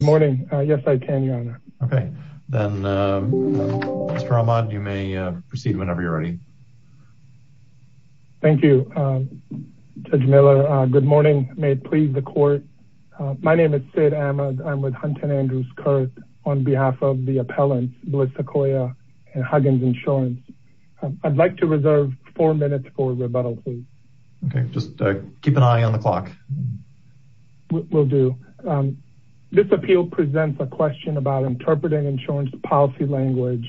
Good morning. Yes, I can, Your Honor. Okay, then, Mr. Ahmad, you may proceed whenever you're ready. Thank you, Judge Miller. Good morning. May it please the Court. My name is Sid Ahmad. I'm with Hunton Andrews Kurth on behalf of the appellants Bliss Sequoia and Huggins Insurance. I'd like to reserve four minutes for rebuttal, please. Okay, just keep an eye on the clock. Will do. This appeal presents a question about interpreting insurance policy language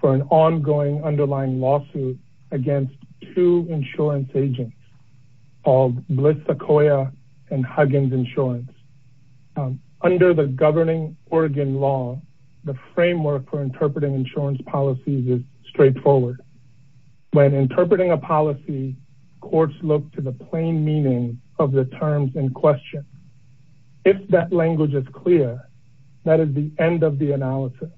for an ongoing underlying lawsuit against two insurance agents called Bliss Sequoia and Huggins Insurance. Under the governing Oregon law, the framework for interpreting insurance policies is straightforward. When interpreting a policy, courts look to the plain meaning of the terms in question. If that language is clear, that is the end of the analysis.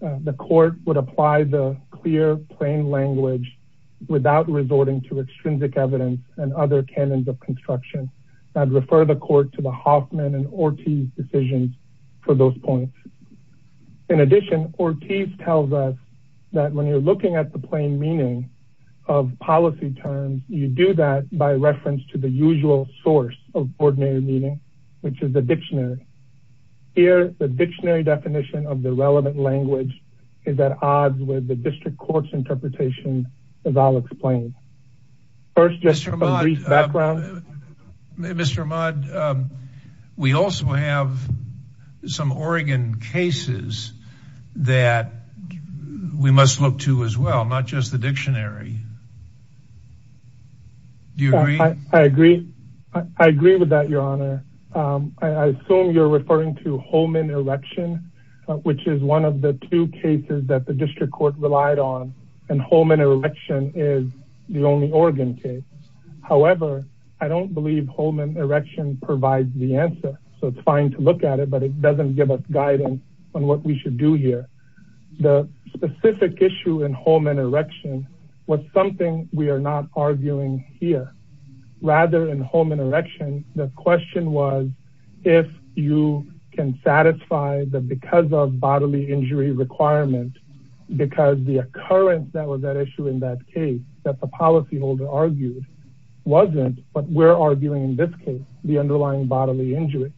The court would apply the clear, plain language without resorting to extrinsic evidence and other canons of construction. I'd refer the court to the Hoffman and Ortiz decisions for those points. In addition, Ortiz tells us that when you're looking at the plain meaning of policy terms, you do that by reference to the usual source of ordinary meaning, which is the dictionary. Here, the dictionary definition of the relevant language is at odds with the district court's interpretation as I'll explain. First, just a brief background. Mr. Ahmad, we also have some Oregon cases that we must look to as well, not just the dictionary. Do you agree? I agree. I agree with that, Your Honor. I assume you're referring to Holman Erection, which is one of the two cases that the district court relied on, and Holman Erection is the only Oregon case. However, I don't believe Holman Erection provides the answer, so it's fine to look at it, but it doesn't give us guidance on what we should do here. The specific issue in here, rather than Holman Erection, the question was if you can satisfy the because of bodily injury requirement because the occurrence that was at issue in that case that the policyholder argued wasn't what we're arguing in this case, the underlying bodily injury.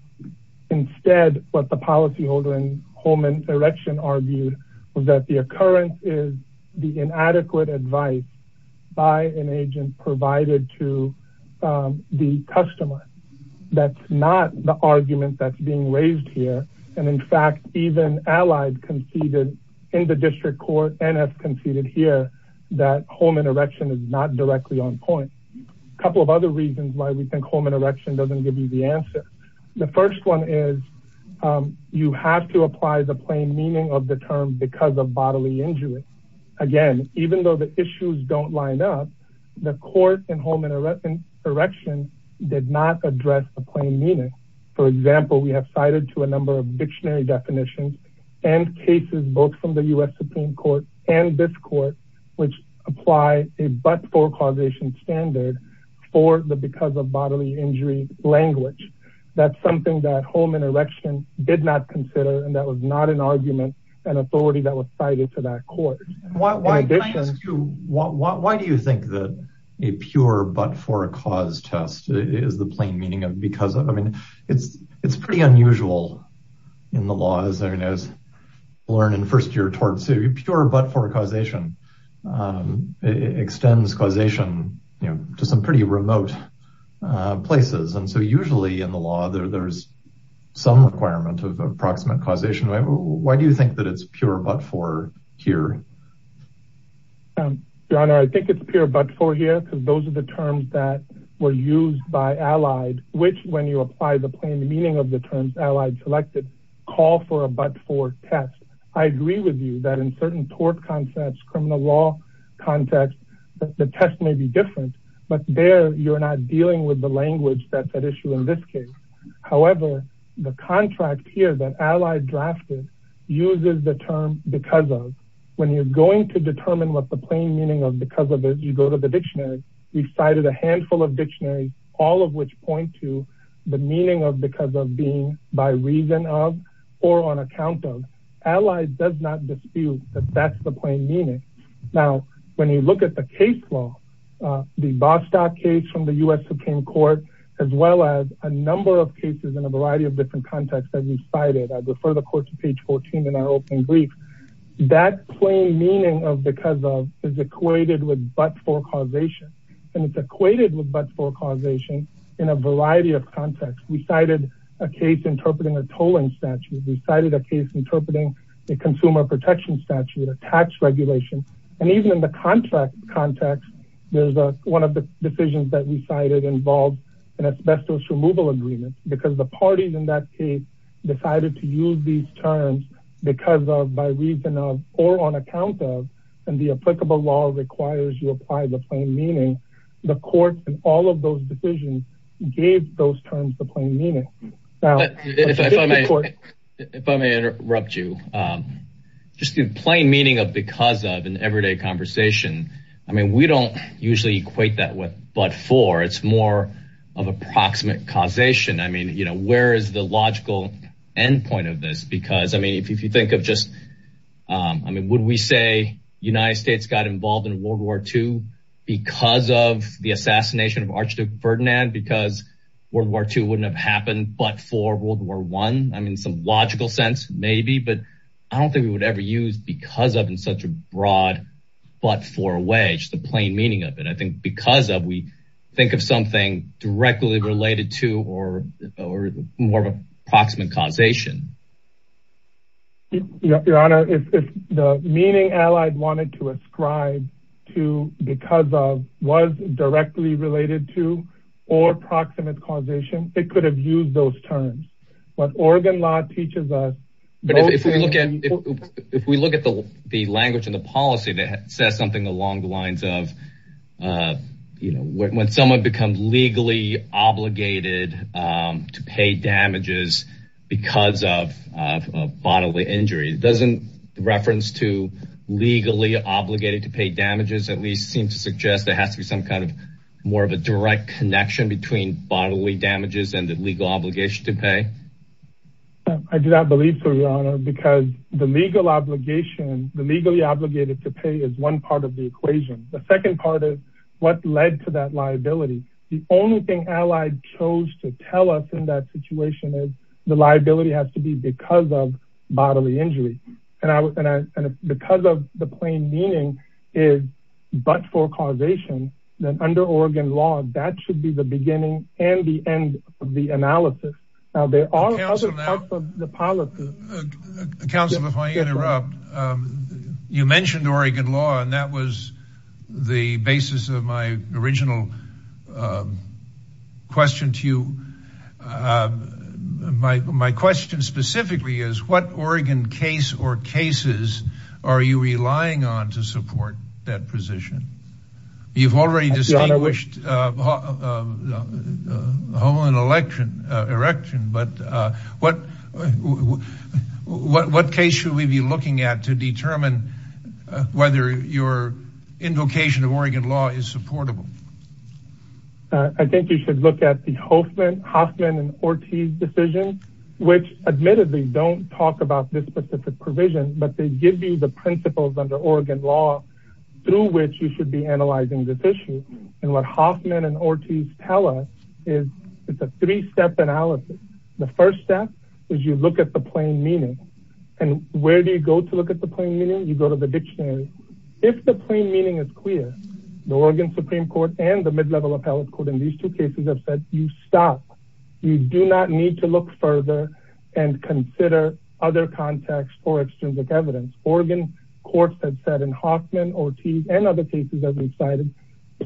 Instead, what the policyholder in Holman Erection argued was that the occurrence is the inadequate advice by an agent provided to the customer. That's not the argument that's being raised here, and in fact, even allies conceded in the district court and have conceded here that Holman Erection is not directly on point. A couple of other reasons why we think Holman Erection doesn't give you the answer. The first one is you have to apply the plain meaning of the term because bodily injury. Again, even though the issues don't line up, the court in Holman Erection did not address the plain meaning. For example, we have cited to a number of dictionary definitions and cases, both from the U.S. Supreme Court and this court, which apply a but-for causation standard for the because of bodily injury language. That's something that Holman Erection did not consider, and that was not an argument and authority that was cited to that court. Why do you think that a pure but-for-cause test is the plain meaning of because of? I mean, it's pretty unusual in the laws. I mean, as I learned in first year torts, a pure but-for causation extends causation to some pretty remote places, and so usually in the law, there's some requirement of approximate causation. Why do you think that it's pure but-for here? John, I think it's pure but-for here because those are the terms that were used by Allied, which when you apply the plain meaning of the terms Allied selected, call for a but-for test. I agree with you that in certain tort concepts, criminal law contexts, the test may be different, but there you're not dealing with the language that's at issue in this case. However, the contract here that Allied drafted uses the term because of. When you're going to determine what the plain meaning of because of is, you go to the dictionary. We've cited a handful of dictionaries, all of which point to the meaning of because of being by reason of or on account of. Allied does not dispute that that's the plain meaning. Now, when you look at the case law, the Bostock case from the U.S. Supreme Court, as well as a number of cases in a variety of different contexts that we've cited, I refer the court to page 14 in our open brief, that plain meaning of because of is equated with but-for causation, and it's equated with but-for causation in a variety of contexts. We cited a case interpreting a tolling statute. We cited a case interpreting a consumer protection statute, a tax regulation, and even in the context, there's one of the decisions that we cited involved an asbestos removal agreement because the parties in that case decided to use these terms because of, by reason of, or on account of, and the applicable law requires you apply the plain meaning, the court in all of those decisions gave those terms the plain meaning. If I may interrupt you, just the plain meaning of because of in everyday conversation, I mean, we don't usually equate that with but-for, it's more of approximate causation. I mean, you know, where is the logical endpoint of this? Because, I mean, if you think of just, I mean, would we say the United States got involved in World War II because of the assassination of but-for World War I? I mean, some logical sense, maybe, but I don't think we would ever use because of in such a broad but-for way, just the plain meaning of it. I think because of, we think of something directly related to or more of an approximate causation. Your Honor, if the meaning allied wanted to ascribe to because of was directly related to or approximate causation, it could have used those terms, but Oregon law teaches us. But if we look at the language and the policy that says something along the lines of, you know, when someone becomes legally obligated to pay damages because of bodily injury, doesn't reference to legally obligated to pay damages at least seem to suggest there has to be some kind of more of a direct connection between bodily damages and the legal obligation to pay? I do not believe so, Your Honor, because the legal obligation, the legally obligated to pay is one part of the equation. The second part is what led to that liability. The only thing allied chose to tell us in that situation is the liability has to be because of bodily injury. And because of the plain meaning is but-for causation, then under Oregon law, that should be the beginning and the end of the analysis. Now, there are other parts of the policy. Counselor, if I interrupt, you mentioned Oregon law, and that was the basis of my original question to you. My question specifically is what Oregon case or cases are you relying on to support that position? You've already distinguished home and election, erection, but what case should we be looking at to determine whether your invocation of Oregon law is supportable? I think you should look at the Hoffman and Ortiz decision, which admittedly don't talk about this specific provision, but they give you the principles under Oregon law through which you should be analyzing this issue. And what Hoffman and Ortiz tell us is it's a three-step analysis. The first step is you look at the plain meaning. And where do you go to look at the plain meaning? You go to the dictionary. If the plain meaning is clear, the Oregon Supreme Court and the mid-level appellate court in these two cases have said, you stop. You do not need to look further and consider other contexts for evidence. Oregon courts have said in Hoffman, Ortiz, and other cases that we've cited,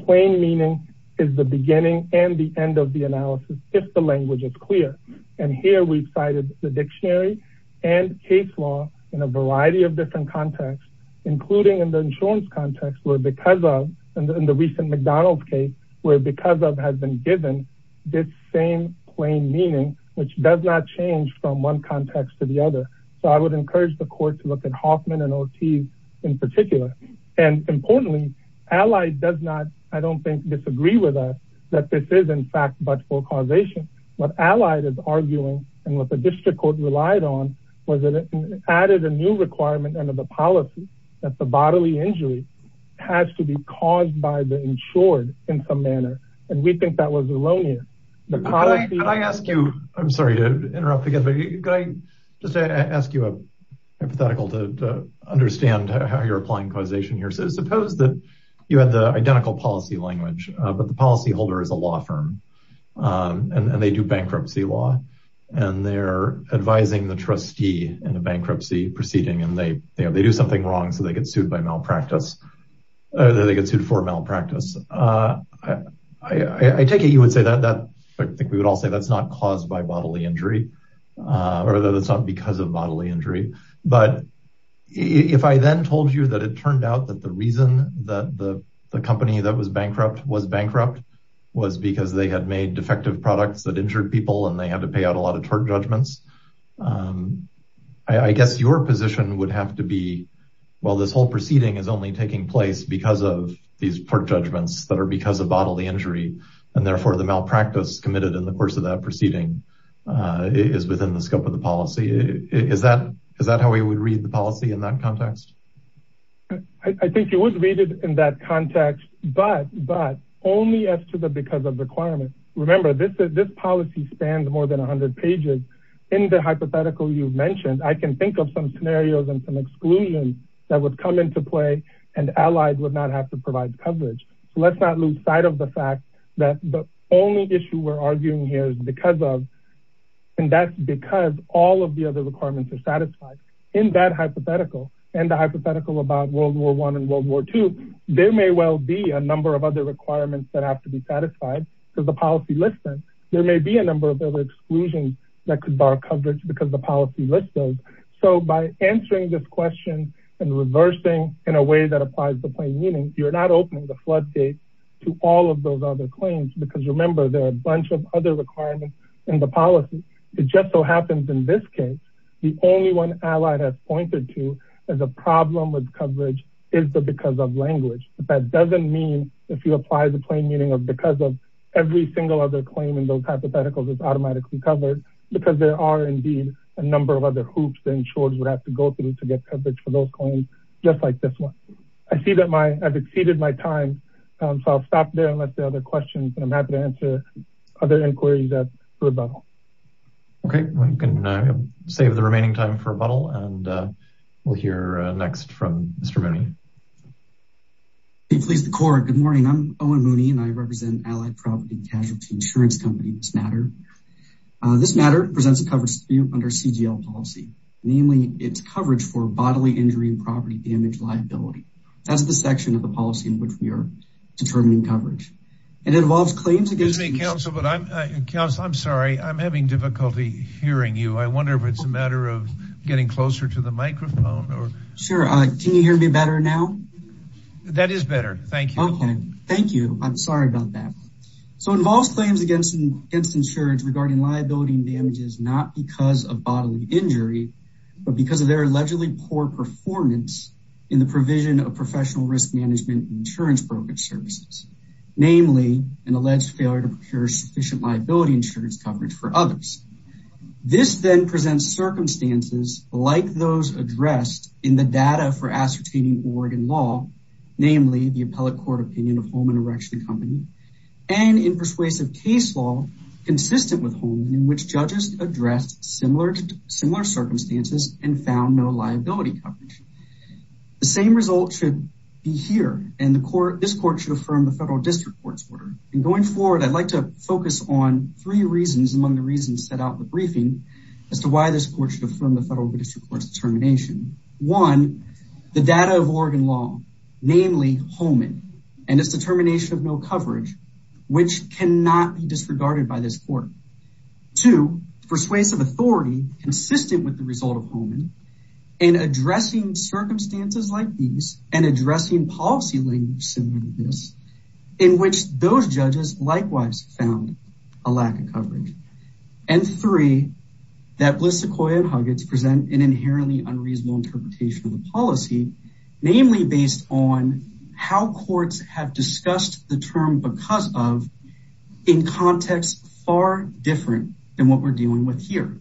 plain meaning is the beginning and the end of the analysis if the language is clear. And here we've cited the dictionary and case law in a variety of different contexts, including in the insurance context where because of, in the recent McDonald's case, where because of has been given this same plain meaning, which does not change from one context to the other. So I would encourage the court to look at Hoffman and Ortiz in particular. And importantly, Allied does not, I don't think, disagree with us that this is in fact, but for causation. What Allied is arguing and what the district court relied on was that it added a new requirement under the policy that the bodily injury has to be caused by the insured in some manner. And we think that was Elonia. Can I ask you, I'm sorry to interrupt again, just to ask you a hypothetical to understand how you're applying causation here. So suppose that you had the identical policy language, but the policy holder is a law firm and they do bankruptcy law and they're advising the trustee in a bankruptcy proceeding and they do something wrong. So they get sued by malpractice or they get sued for malpractice. I take it, you would say I think we would all say that's not caused by bodily injury or that it's not because of bodily injury. But if I then told you that it turned out that the reason that the company that was bankrupt was bankrupt was because they had made defective products that injured people and they had to pay out a lot of tort judgments. I guess your position would have to be, well, this whole proceeding is only taking place because of these port judgments that are because of bodily injury and therefore the malpractice committed in the course of that proceeding is within the scope of the policy. Is that how we would read the policy in that context? I think you would read it in that context, but only as to the, because of requirements. Remember this policy spans more than a hundred pages. In the hypothetical you've mentioned, I can think of some scenarios and some exclusions that would come into play and allies would not have to provide coverage. Let's not lose sight of the fact that the only issue we're arguing here is because of, and that's because all of the other requirements are satisfied in that hypothetical and the hypothetical about World War I and World War II, there may well be a number of other requirements that have to be satisfied because the policy lists them. There may be a number of other exclusions that could bar coverage because the policy lists those. So by answering this question and reversing in a way that applies to plain meaning, you're not opening the floodgates to all of those other claims, because remember there are a bunch of other requirements in the policy. It just so happens in this case, the only one allied has pointed to as a problem with coverage is the because of language. That doesn't mean if you apply the plain meaning of because of every single other claim in those hypotheticals is automatically covered because there are indeed a number of other hoops that insurers would have to go through to coverage for those claims, just like this one. I see that I've exceeded my time. So I'll stop there and let the other questions and I'm happy to answer other inquiries at the rebuttal. Okay, we can save the remaining time for rebuttal and we'll hear next from Mr. Mooney. Please the court. Good morning. I'm Owen Mooney and I represent Allied Property Casualty Insurance Company, this matter. This matter presents a coverage under CGL policy, namely it's coverage for bodily injury and property damage liability. That's the section of the policy in which we are determining coverage. It involves claims against me, counsel, but I'm counsel. I'm sorry, I'm having difficulty hearing you. I wonder if it's a matter of getting closer to the microphone or sure. Can you hear me better now? That is better. Thank you. Okay, thank you. I'm sorry about that. So involves claims against insurance regarding liability and damages, not because of bodily poor performance in the provision of professional risk management and insurance brokerage services, namely an alleged failure to procure sufficient liability insurance coverage for others. This then presents circumstances like those addressed in the data for ascertaining Oregon law, namely the appellate court opinion of Holman Erection Company and in persuasive case law consistent with Holman in which judges addressed similar circumstances and found no liability coverage. The same result should be here and this court should affirm the federal district court's order. And going forward, I'd like to focus on three reasons among the reasons set out in the briefing as to why this court should affirm the federal district court's determination. One, the data of Oregon law, namely Holman and its determination of no coverage, which cannot be disregarded by this court. Two, persuasive authority consistent with the result of Holman in addressing circumstances like these and addressing policy language similar to this, in which those judges likewise found a lack of coverage. And three, that Bliss, Sequoia, and Huggins present an inherently unreasonable interpretation of the policy, namely based on how courts have discussed the term because of in context far different than what we're dealing with here.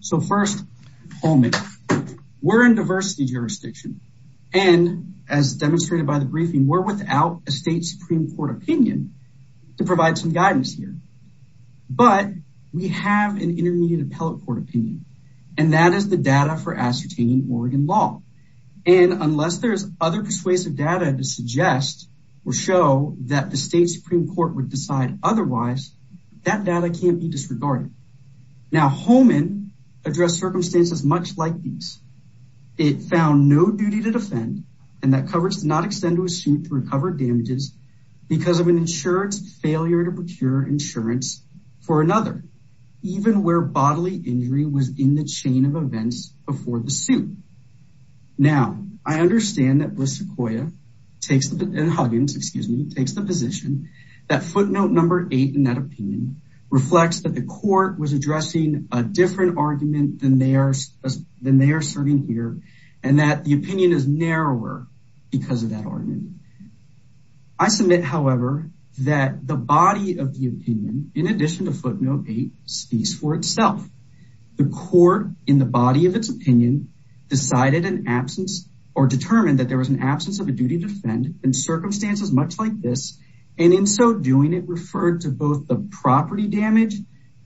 So first Holman, we're in diversity jurisdiction and as demonstrated by the briefing, we're without a state Supreme court opinion to provide some guidance here, but we have an intermediate appellate court opinion and that is the data for ascertaining law. And unless there's other persuasive data to suggest or show that the state Supreme court would decide otherwise, that data can't be disregarded. Now, Holman addressed circumstances much like these. It found no duty to defend and that coverage does not extend to a suit to recover damages because of an insurance failure to procure insurance for another, even where bodily injury was in the chain of events before the suit. Now I understand that Bliss, Sequoia, and Huggins, excuse me, takes the position that footnote number eight in that opinion reflects that the court was addressing a different argument than they are serving here and that the opinion is narrower because of that argument. I submit, however, that the body of the opinion, in addition to footnote eight, speaks for itself. The court, in the body of its opinion, decided an absence or determined that there was an absence of a duty to defend in circumstances much like this. And in so doing, it referred to both the property damage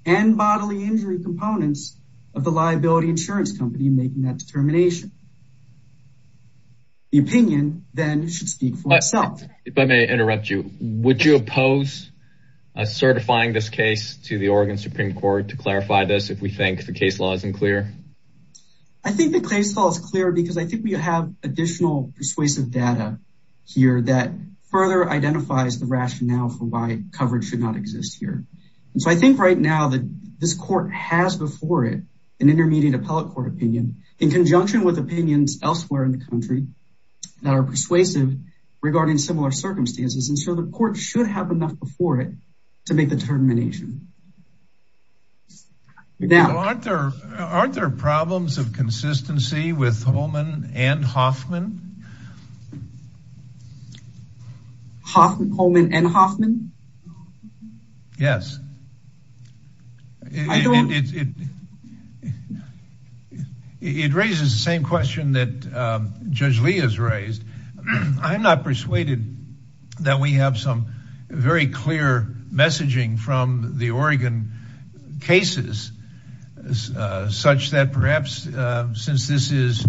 and bodily injury components of the liability insurance company making that determination. The opinion then should speak for itself. If I may interrupt would you oppose certifying this case to the Oregon Supreme Court to clarify this if we think the case law isn't clear? I think the case law is clear because I think we have additional persuasive data here that further identifies the rationale for why coverage should not exist here. And so I think right now that this court has before it an intermediate appellate court opinion in conjunction with opinions elsewhere in the country that are persuasive regarding similar circumstances and so the court should have enough before it to make the determination. Aren't there problems of consistency with Holman and Hoffman? Hoffman, Holman and Hoffman? Yes. It raises the same question that Judge Lee has raised. I'm not persuaded that we have some very clear messaging from the Oregon cases such that perhaps since this is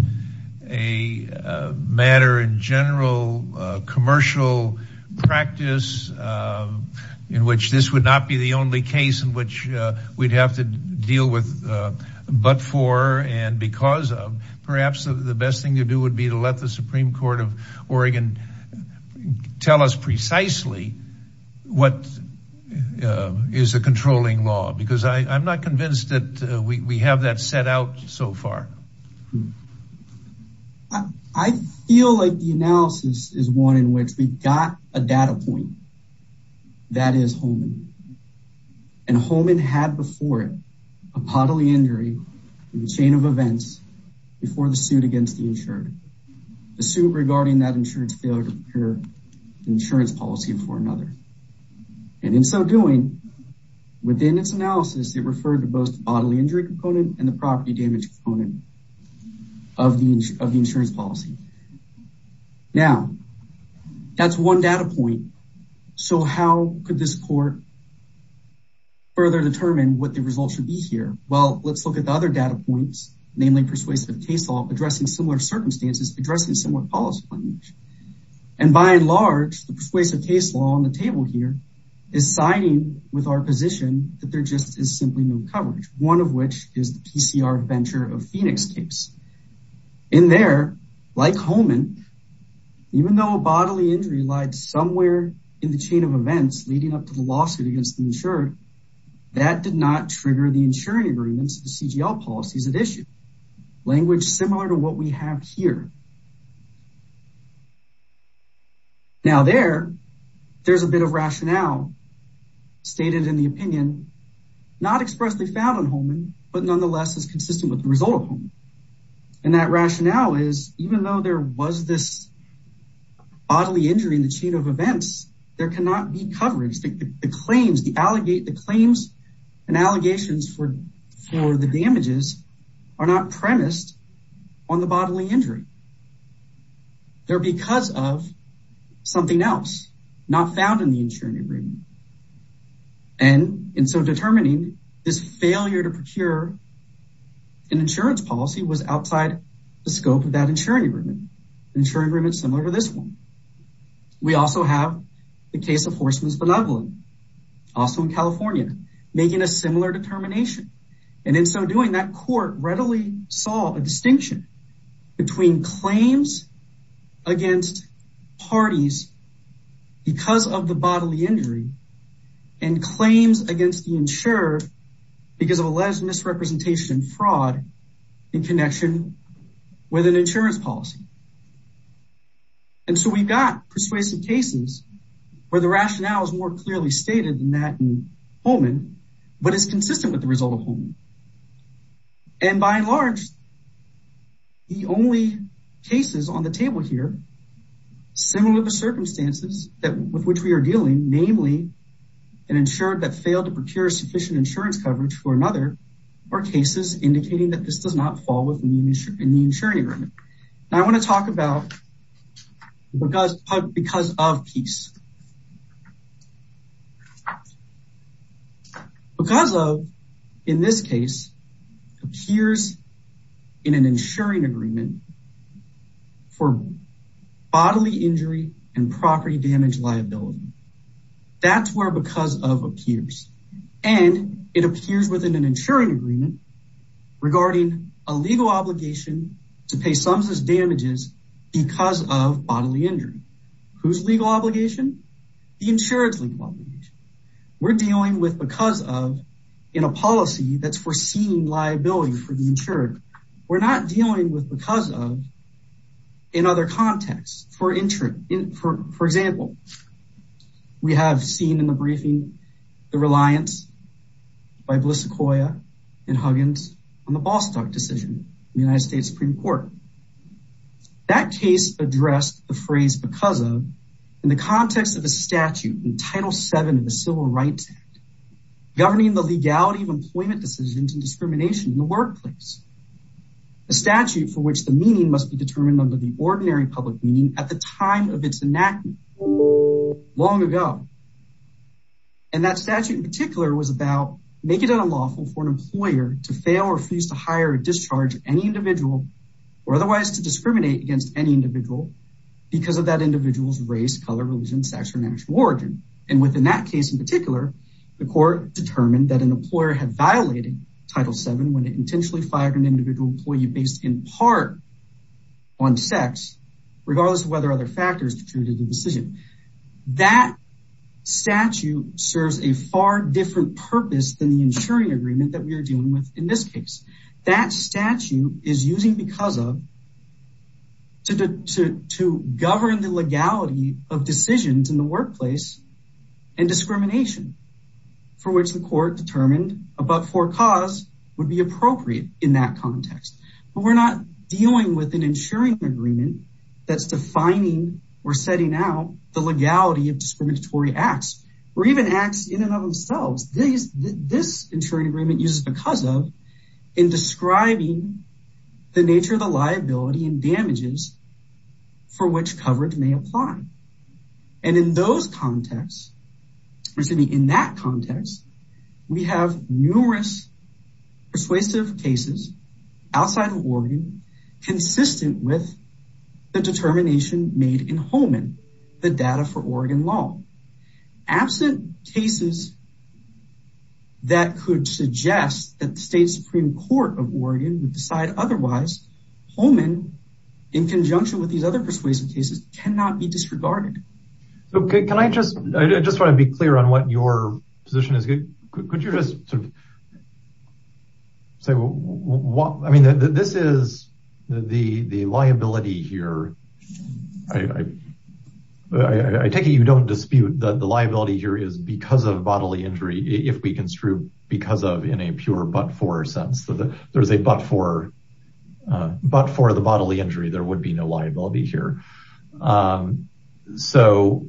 a matter in general commercial practice in which this would not be the only case in which we'd have to deal with but for and because of, the best thing to do would be to let the Supreme Court of Oregon tell us precisely what is a controlling law because I'm not convinced that we have that set out so far. I feel like the analysis is one in which we got a data point that is Holman and Holman had before a bodily injury in the chain of events before the suit against the insured the suit regarding that insurance failure to procure insurance policy before another and in so doing within its analysis it referred to both bodily injury component and the property damage component of the insurance policy. Now that's one data point so how could this court further determine what the result should be here? Well let's look at the other data points namely persuasive case law addressing similar circumstances addressing similar policy and by and large the persuasive case law on the table here is siding with our position that there just is simply no coverage one of which is the PCR venture of Phoenix case. In there like Holman even though a bodily injury lied somewhere in the chain of events leading up to the lawsuit against the insured that did not trigger the insuring agreements the CGL policies at issue language similar to what we have here. Now there there's a bit of rationale stated in the opinion not expressly found on Holman but nonetheless is consistent with the result of Holman and that rationale is even though there was this bodily injury in the chain of events there cannot be coverage. The claims the allegate the claims and allegations for for the damages are not premised on the bodily injury. They're because of something else not found in the insuring agreement and in so determining this failure to procure an insurance policy was outside the scope of insuring agreement insuring agreements similar to this one. We also have the case of Horstman's benevolent also in California making a similar determination and in so doing that court readily saw a distinction between claims against parties because of the bodily injury and claims against the insurer because of alleged misrepresentation fraud in connection with an insurance policy and so we've got persuasive cases where the rationale is more clearly stated than that in Holman but it's consistent with the result of Holman and by and large the only cases on the table here similar to circumstances that with which we are dealing namely an insured that failed to procure sufficient insurance coverage for another or cases indicating that this does not fall within the insurance agreement. Now I want to talk about because of peace because of in this case appears in an insuring agreement for bodily injury and property damage liability that's where because of appears and it appears within an insuring agreement regarding a legal obligation to pay sums as damages because of bodily injury whose legal obligation the insurance legal obligation we're dealing with because of in a policy that's foreseeing liability for the insured we're not dealing with because of in other contexts for for example we have seen in the briefing the reliance by Bliss Sequoia and Huggins on the Bostock decision in the United States Supreme Court that case addressed the phrase because of in the context of a statute in Title VII of the Civil Rights Act governing the legality of employment decisions and discrimination in the workplace a statute for which the meaning must be determined under the ordinary public meaning at the time of its enactment long ago and that statute in particular was about making it unlawful for an employer to fail or freeze to hire or discharge any individual or otherwise to discriminate against any individual because of that individual's race color religion sex or national origin and within that case in particular the court determined that an employer had violated Title VII when it intentionally fired an individual employee based in part on sex regardless of whether other factors contributed to the decision that statute serves a far different purpose than the insuring agreement that we are dealing with in this case that statute is using because of to to to govern the legality of decisions in the workplace and discrimination for which the court determined about for cause would be appropriate in that context but we're not dealing with an insuring agreement that's defining or setting out the legality of discriminatory acts or even acts in and of themselves these this insuring agreement uses because of in describing the nature of the liability and damages for which coverage may apply and in those contexts we're sitting in that context we have numerous persuasive cases outside of Oregon consistent with the determination made in Holman the data for Oregon law absent cases that could suggest that the state supreme court of Oregon would decide otherwise Holman in conjunction with these other persuasive cases cannot be disregarded okay can I just I just want to be clear on what your position is good could you just sort of say what I mean this is the the liability here I I I take it you don't dispute that the liability here is because of bodily injury if we construe because of in a pure but for sense that there's a but for but for the bodily injury there would be no liability here so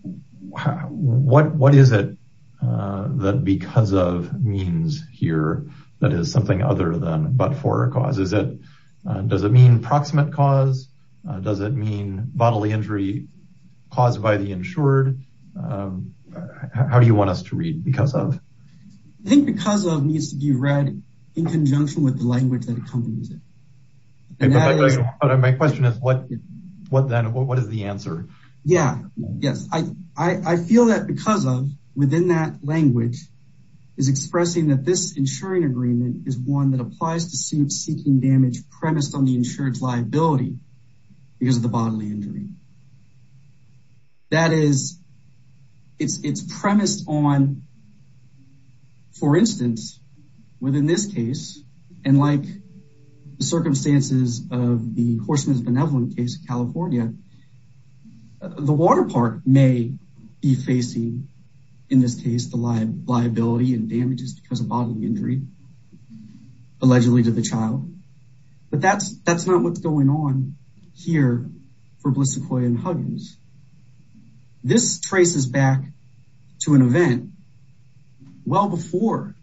what what is it that because of means here that is something other than but for causes it does it mean proximate cause does it mean bodily injury caused by the insured how do you want us to read because of I think because of needs to be read in conjunction with the language that accompanies it my question is what what then what is the answer yeah yes I I feel that because of within that language is expressing that this insuring agreement is one that applies to suit seeking damage premised on the insured's liability because of the bodily injury that is it's it's premised on for instance within this case and like the circumstances of the horseman's benevolent case of california the water park may be facing in this case the liability and damages because of bodily injury allegedly to the child but that's that's not what's going on here for well before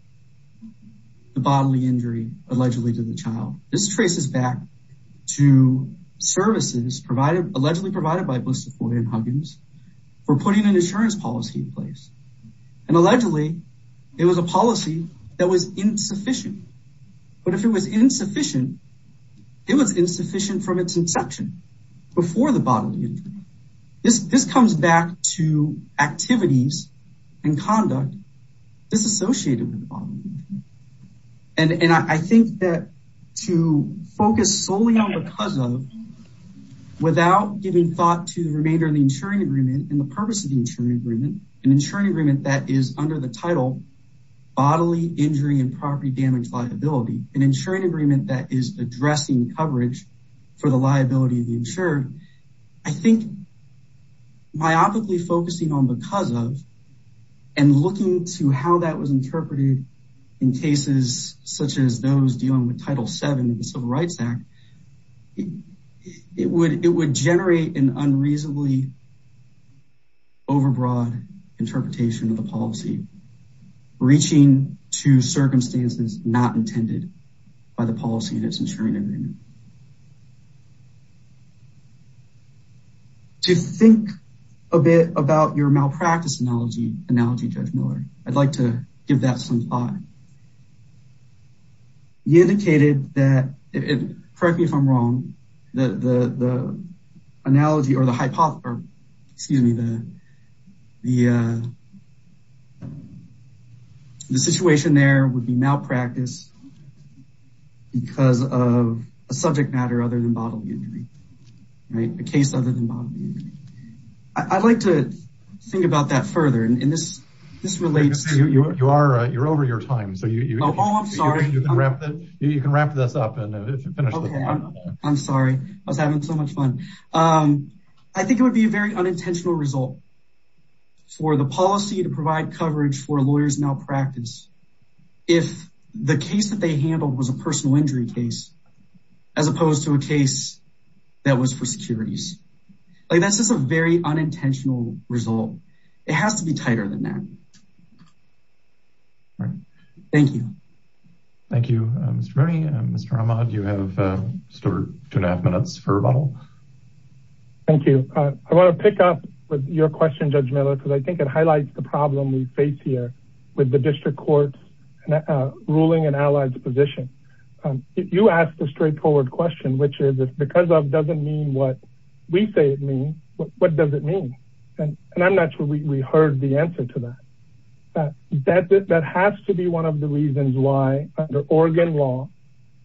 the bodily injury allegedly to the child this traces back to services provided allegedly provided by blister foyer and huggins for putting an insurance policy in place and allegedly it was a policy that was insufficient but if it was insufficient it was insufficient from its inception before the bodily injury this this comes back to activities and conduct this associated with the bottom and and I think that to focus solely on because of without giving thought to the remainder of the insuring agreement and the purpose of the insuring agreement an insuring agreement that is under the title bodily injury and property damage an insuring agreement that is addressing coverage for the liability of the insured I think myopically focusing on because of and looking to how that was interpreted in cases such as those dealing with title 7 of the civil rights act it would it would generate an unreasonably overbroad interpretation of the policy reaching to circumstances not intended by the policy in its insuring agreement to think a bit about your malpractice analogy analogy judge miller I'd like to give that some thought he indicated that it correct me if I'm wrong the the the analogy or the hypothesis excuse me the the the situation there would be malpractice because of a subject matter other than bodily injury right a case other than bodily injury I'd like to think about that further and this this relates to you you are you're over your time so you oh I'm sorry you can wrap that you can um I think it would be a very unintentional result for the policy to provide coverage for lawyers malpractice if the case that they handled was a personal injury case as opposed to a case that was for securities like that's just a very unintentional result it has to be tighter than that all right thank you thank you Mr. Rooney Mr. Ahmad you have uh two and a half minutes for rebuttal thank you I want to pick up with your question judge Miller because I think it highlights the problem we face here with the district court's ruling and allies position um you asked a straightforward question which is because of doesn't mean what we say it means what does it and and I'm not sure we heard the answer to that that that has to be one of the reasons why under Oregon law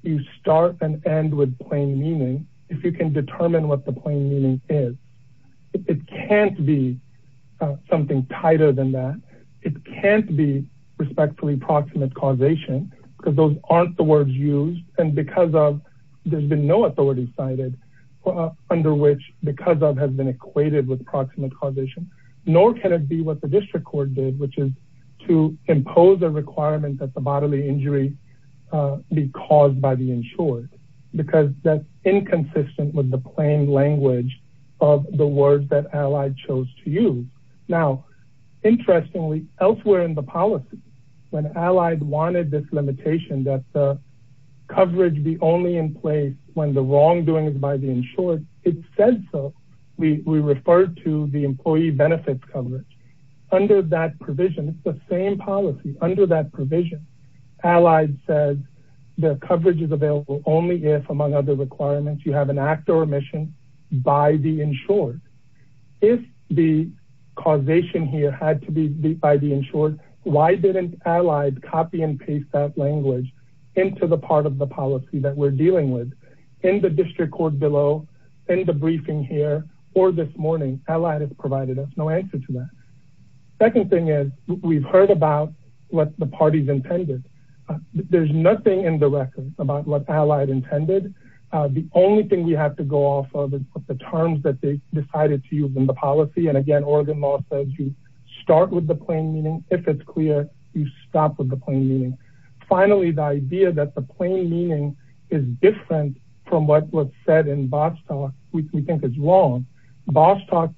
you start and end with plain meaning if you can determine what the plain meaning is it can't be something tighter than that it can't be respectfully proximate causation because those aren't the words used and because of there's been no authority cited under which because of has been equated with proximate causation nor can it be what the district court did which is to impose a requirement that the bodily injury uh be caused by the insured because that's inconsistent with the plain language of the words that allied chose to use now interestingly elsewhere in the policy when allied wanted this limitation that the wrongdoing is by the insured it says so we we refer to the employee benefits coverage under that provision it's the same policy under that provision allied says the coverage is available only if among other requirements you have an act or omission by the insured if the causation here had to be by the insured why didn't allied copy and paste that language into the part of the district court below in the briefing here or this morning allied has provided us no answer to that second thing is we've heard about what the parties intended there's nothing in the record about what allied intended uh the only thing we have to go off of is the terms that they decided to use in the policy and again Oregon law says you start with the plain meaning if it's clear you stop the plain meaning finally the idea that the plain meaning is different from what was said in Bostock which we think is wrong Bostock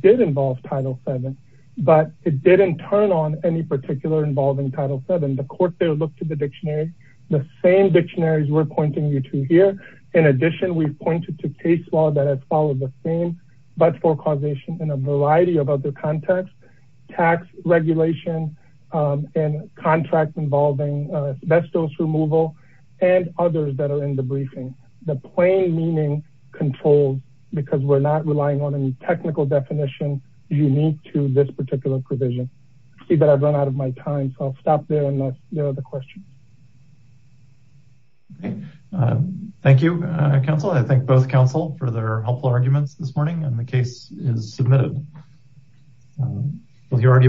did involve title 7 but it didn't turn on any particular involving title 7 the court there looked at the dictionary the same dictionaries we're pointing you to here in addition we've pointed to case law that has followed the same but for causation in a involving asbestos removal and others that are in the briefing the plain meaning controls because we're not relying on any technical definition unique to this particular provision see that I've run out of my time so I'll stop there unless there are other questions okay thank you council I thank both council for their helpful arguments this morning and the case is submitted well you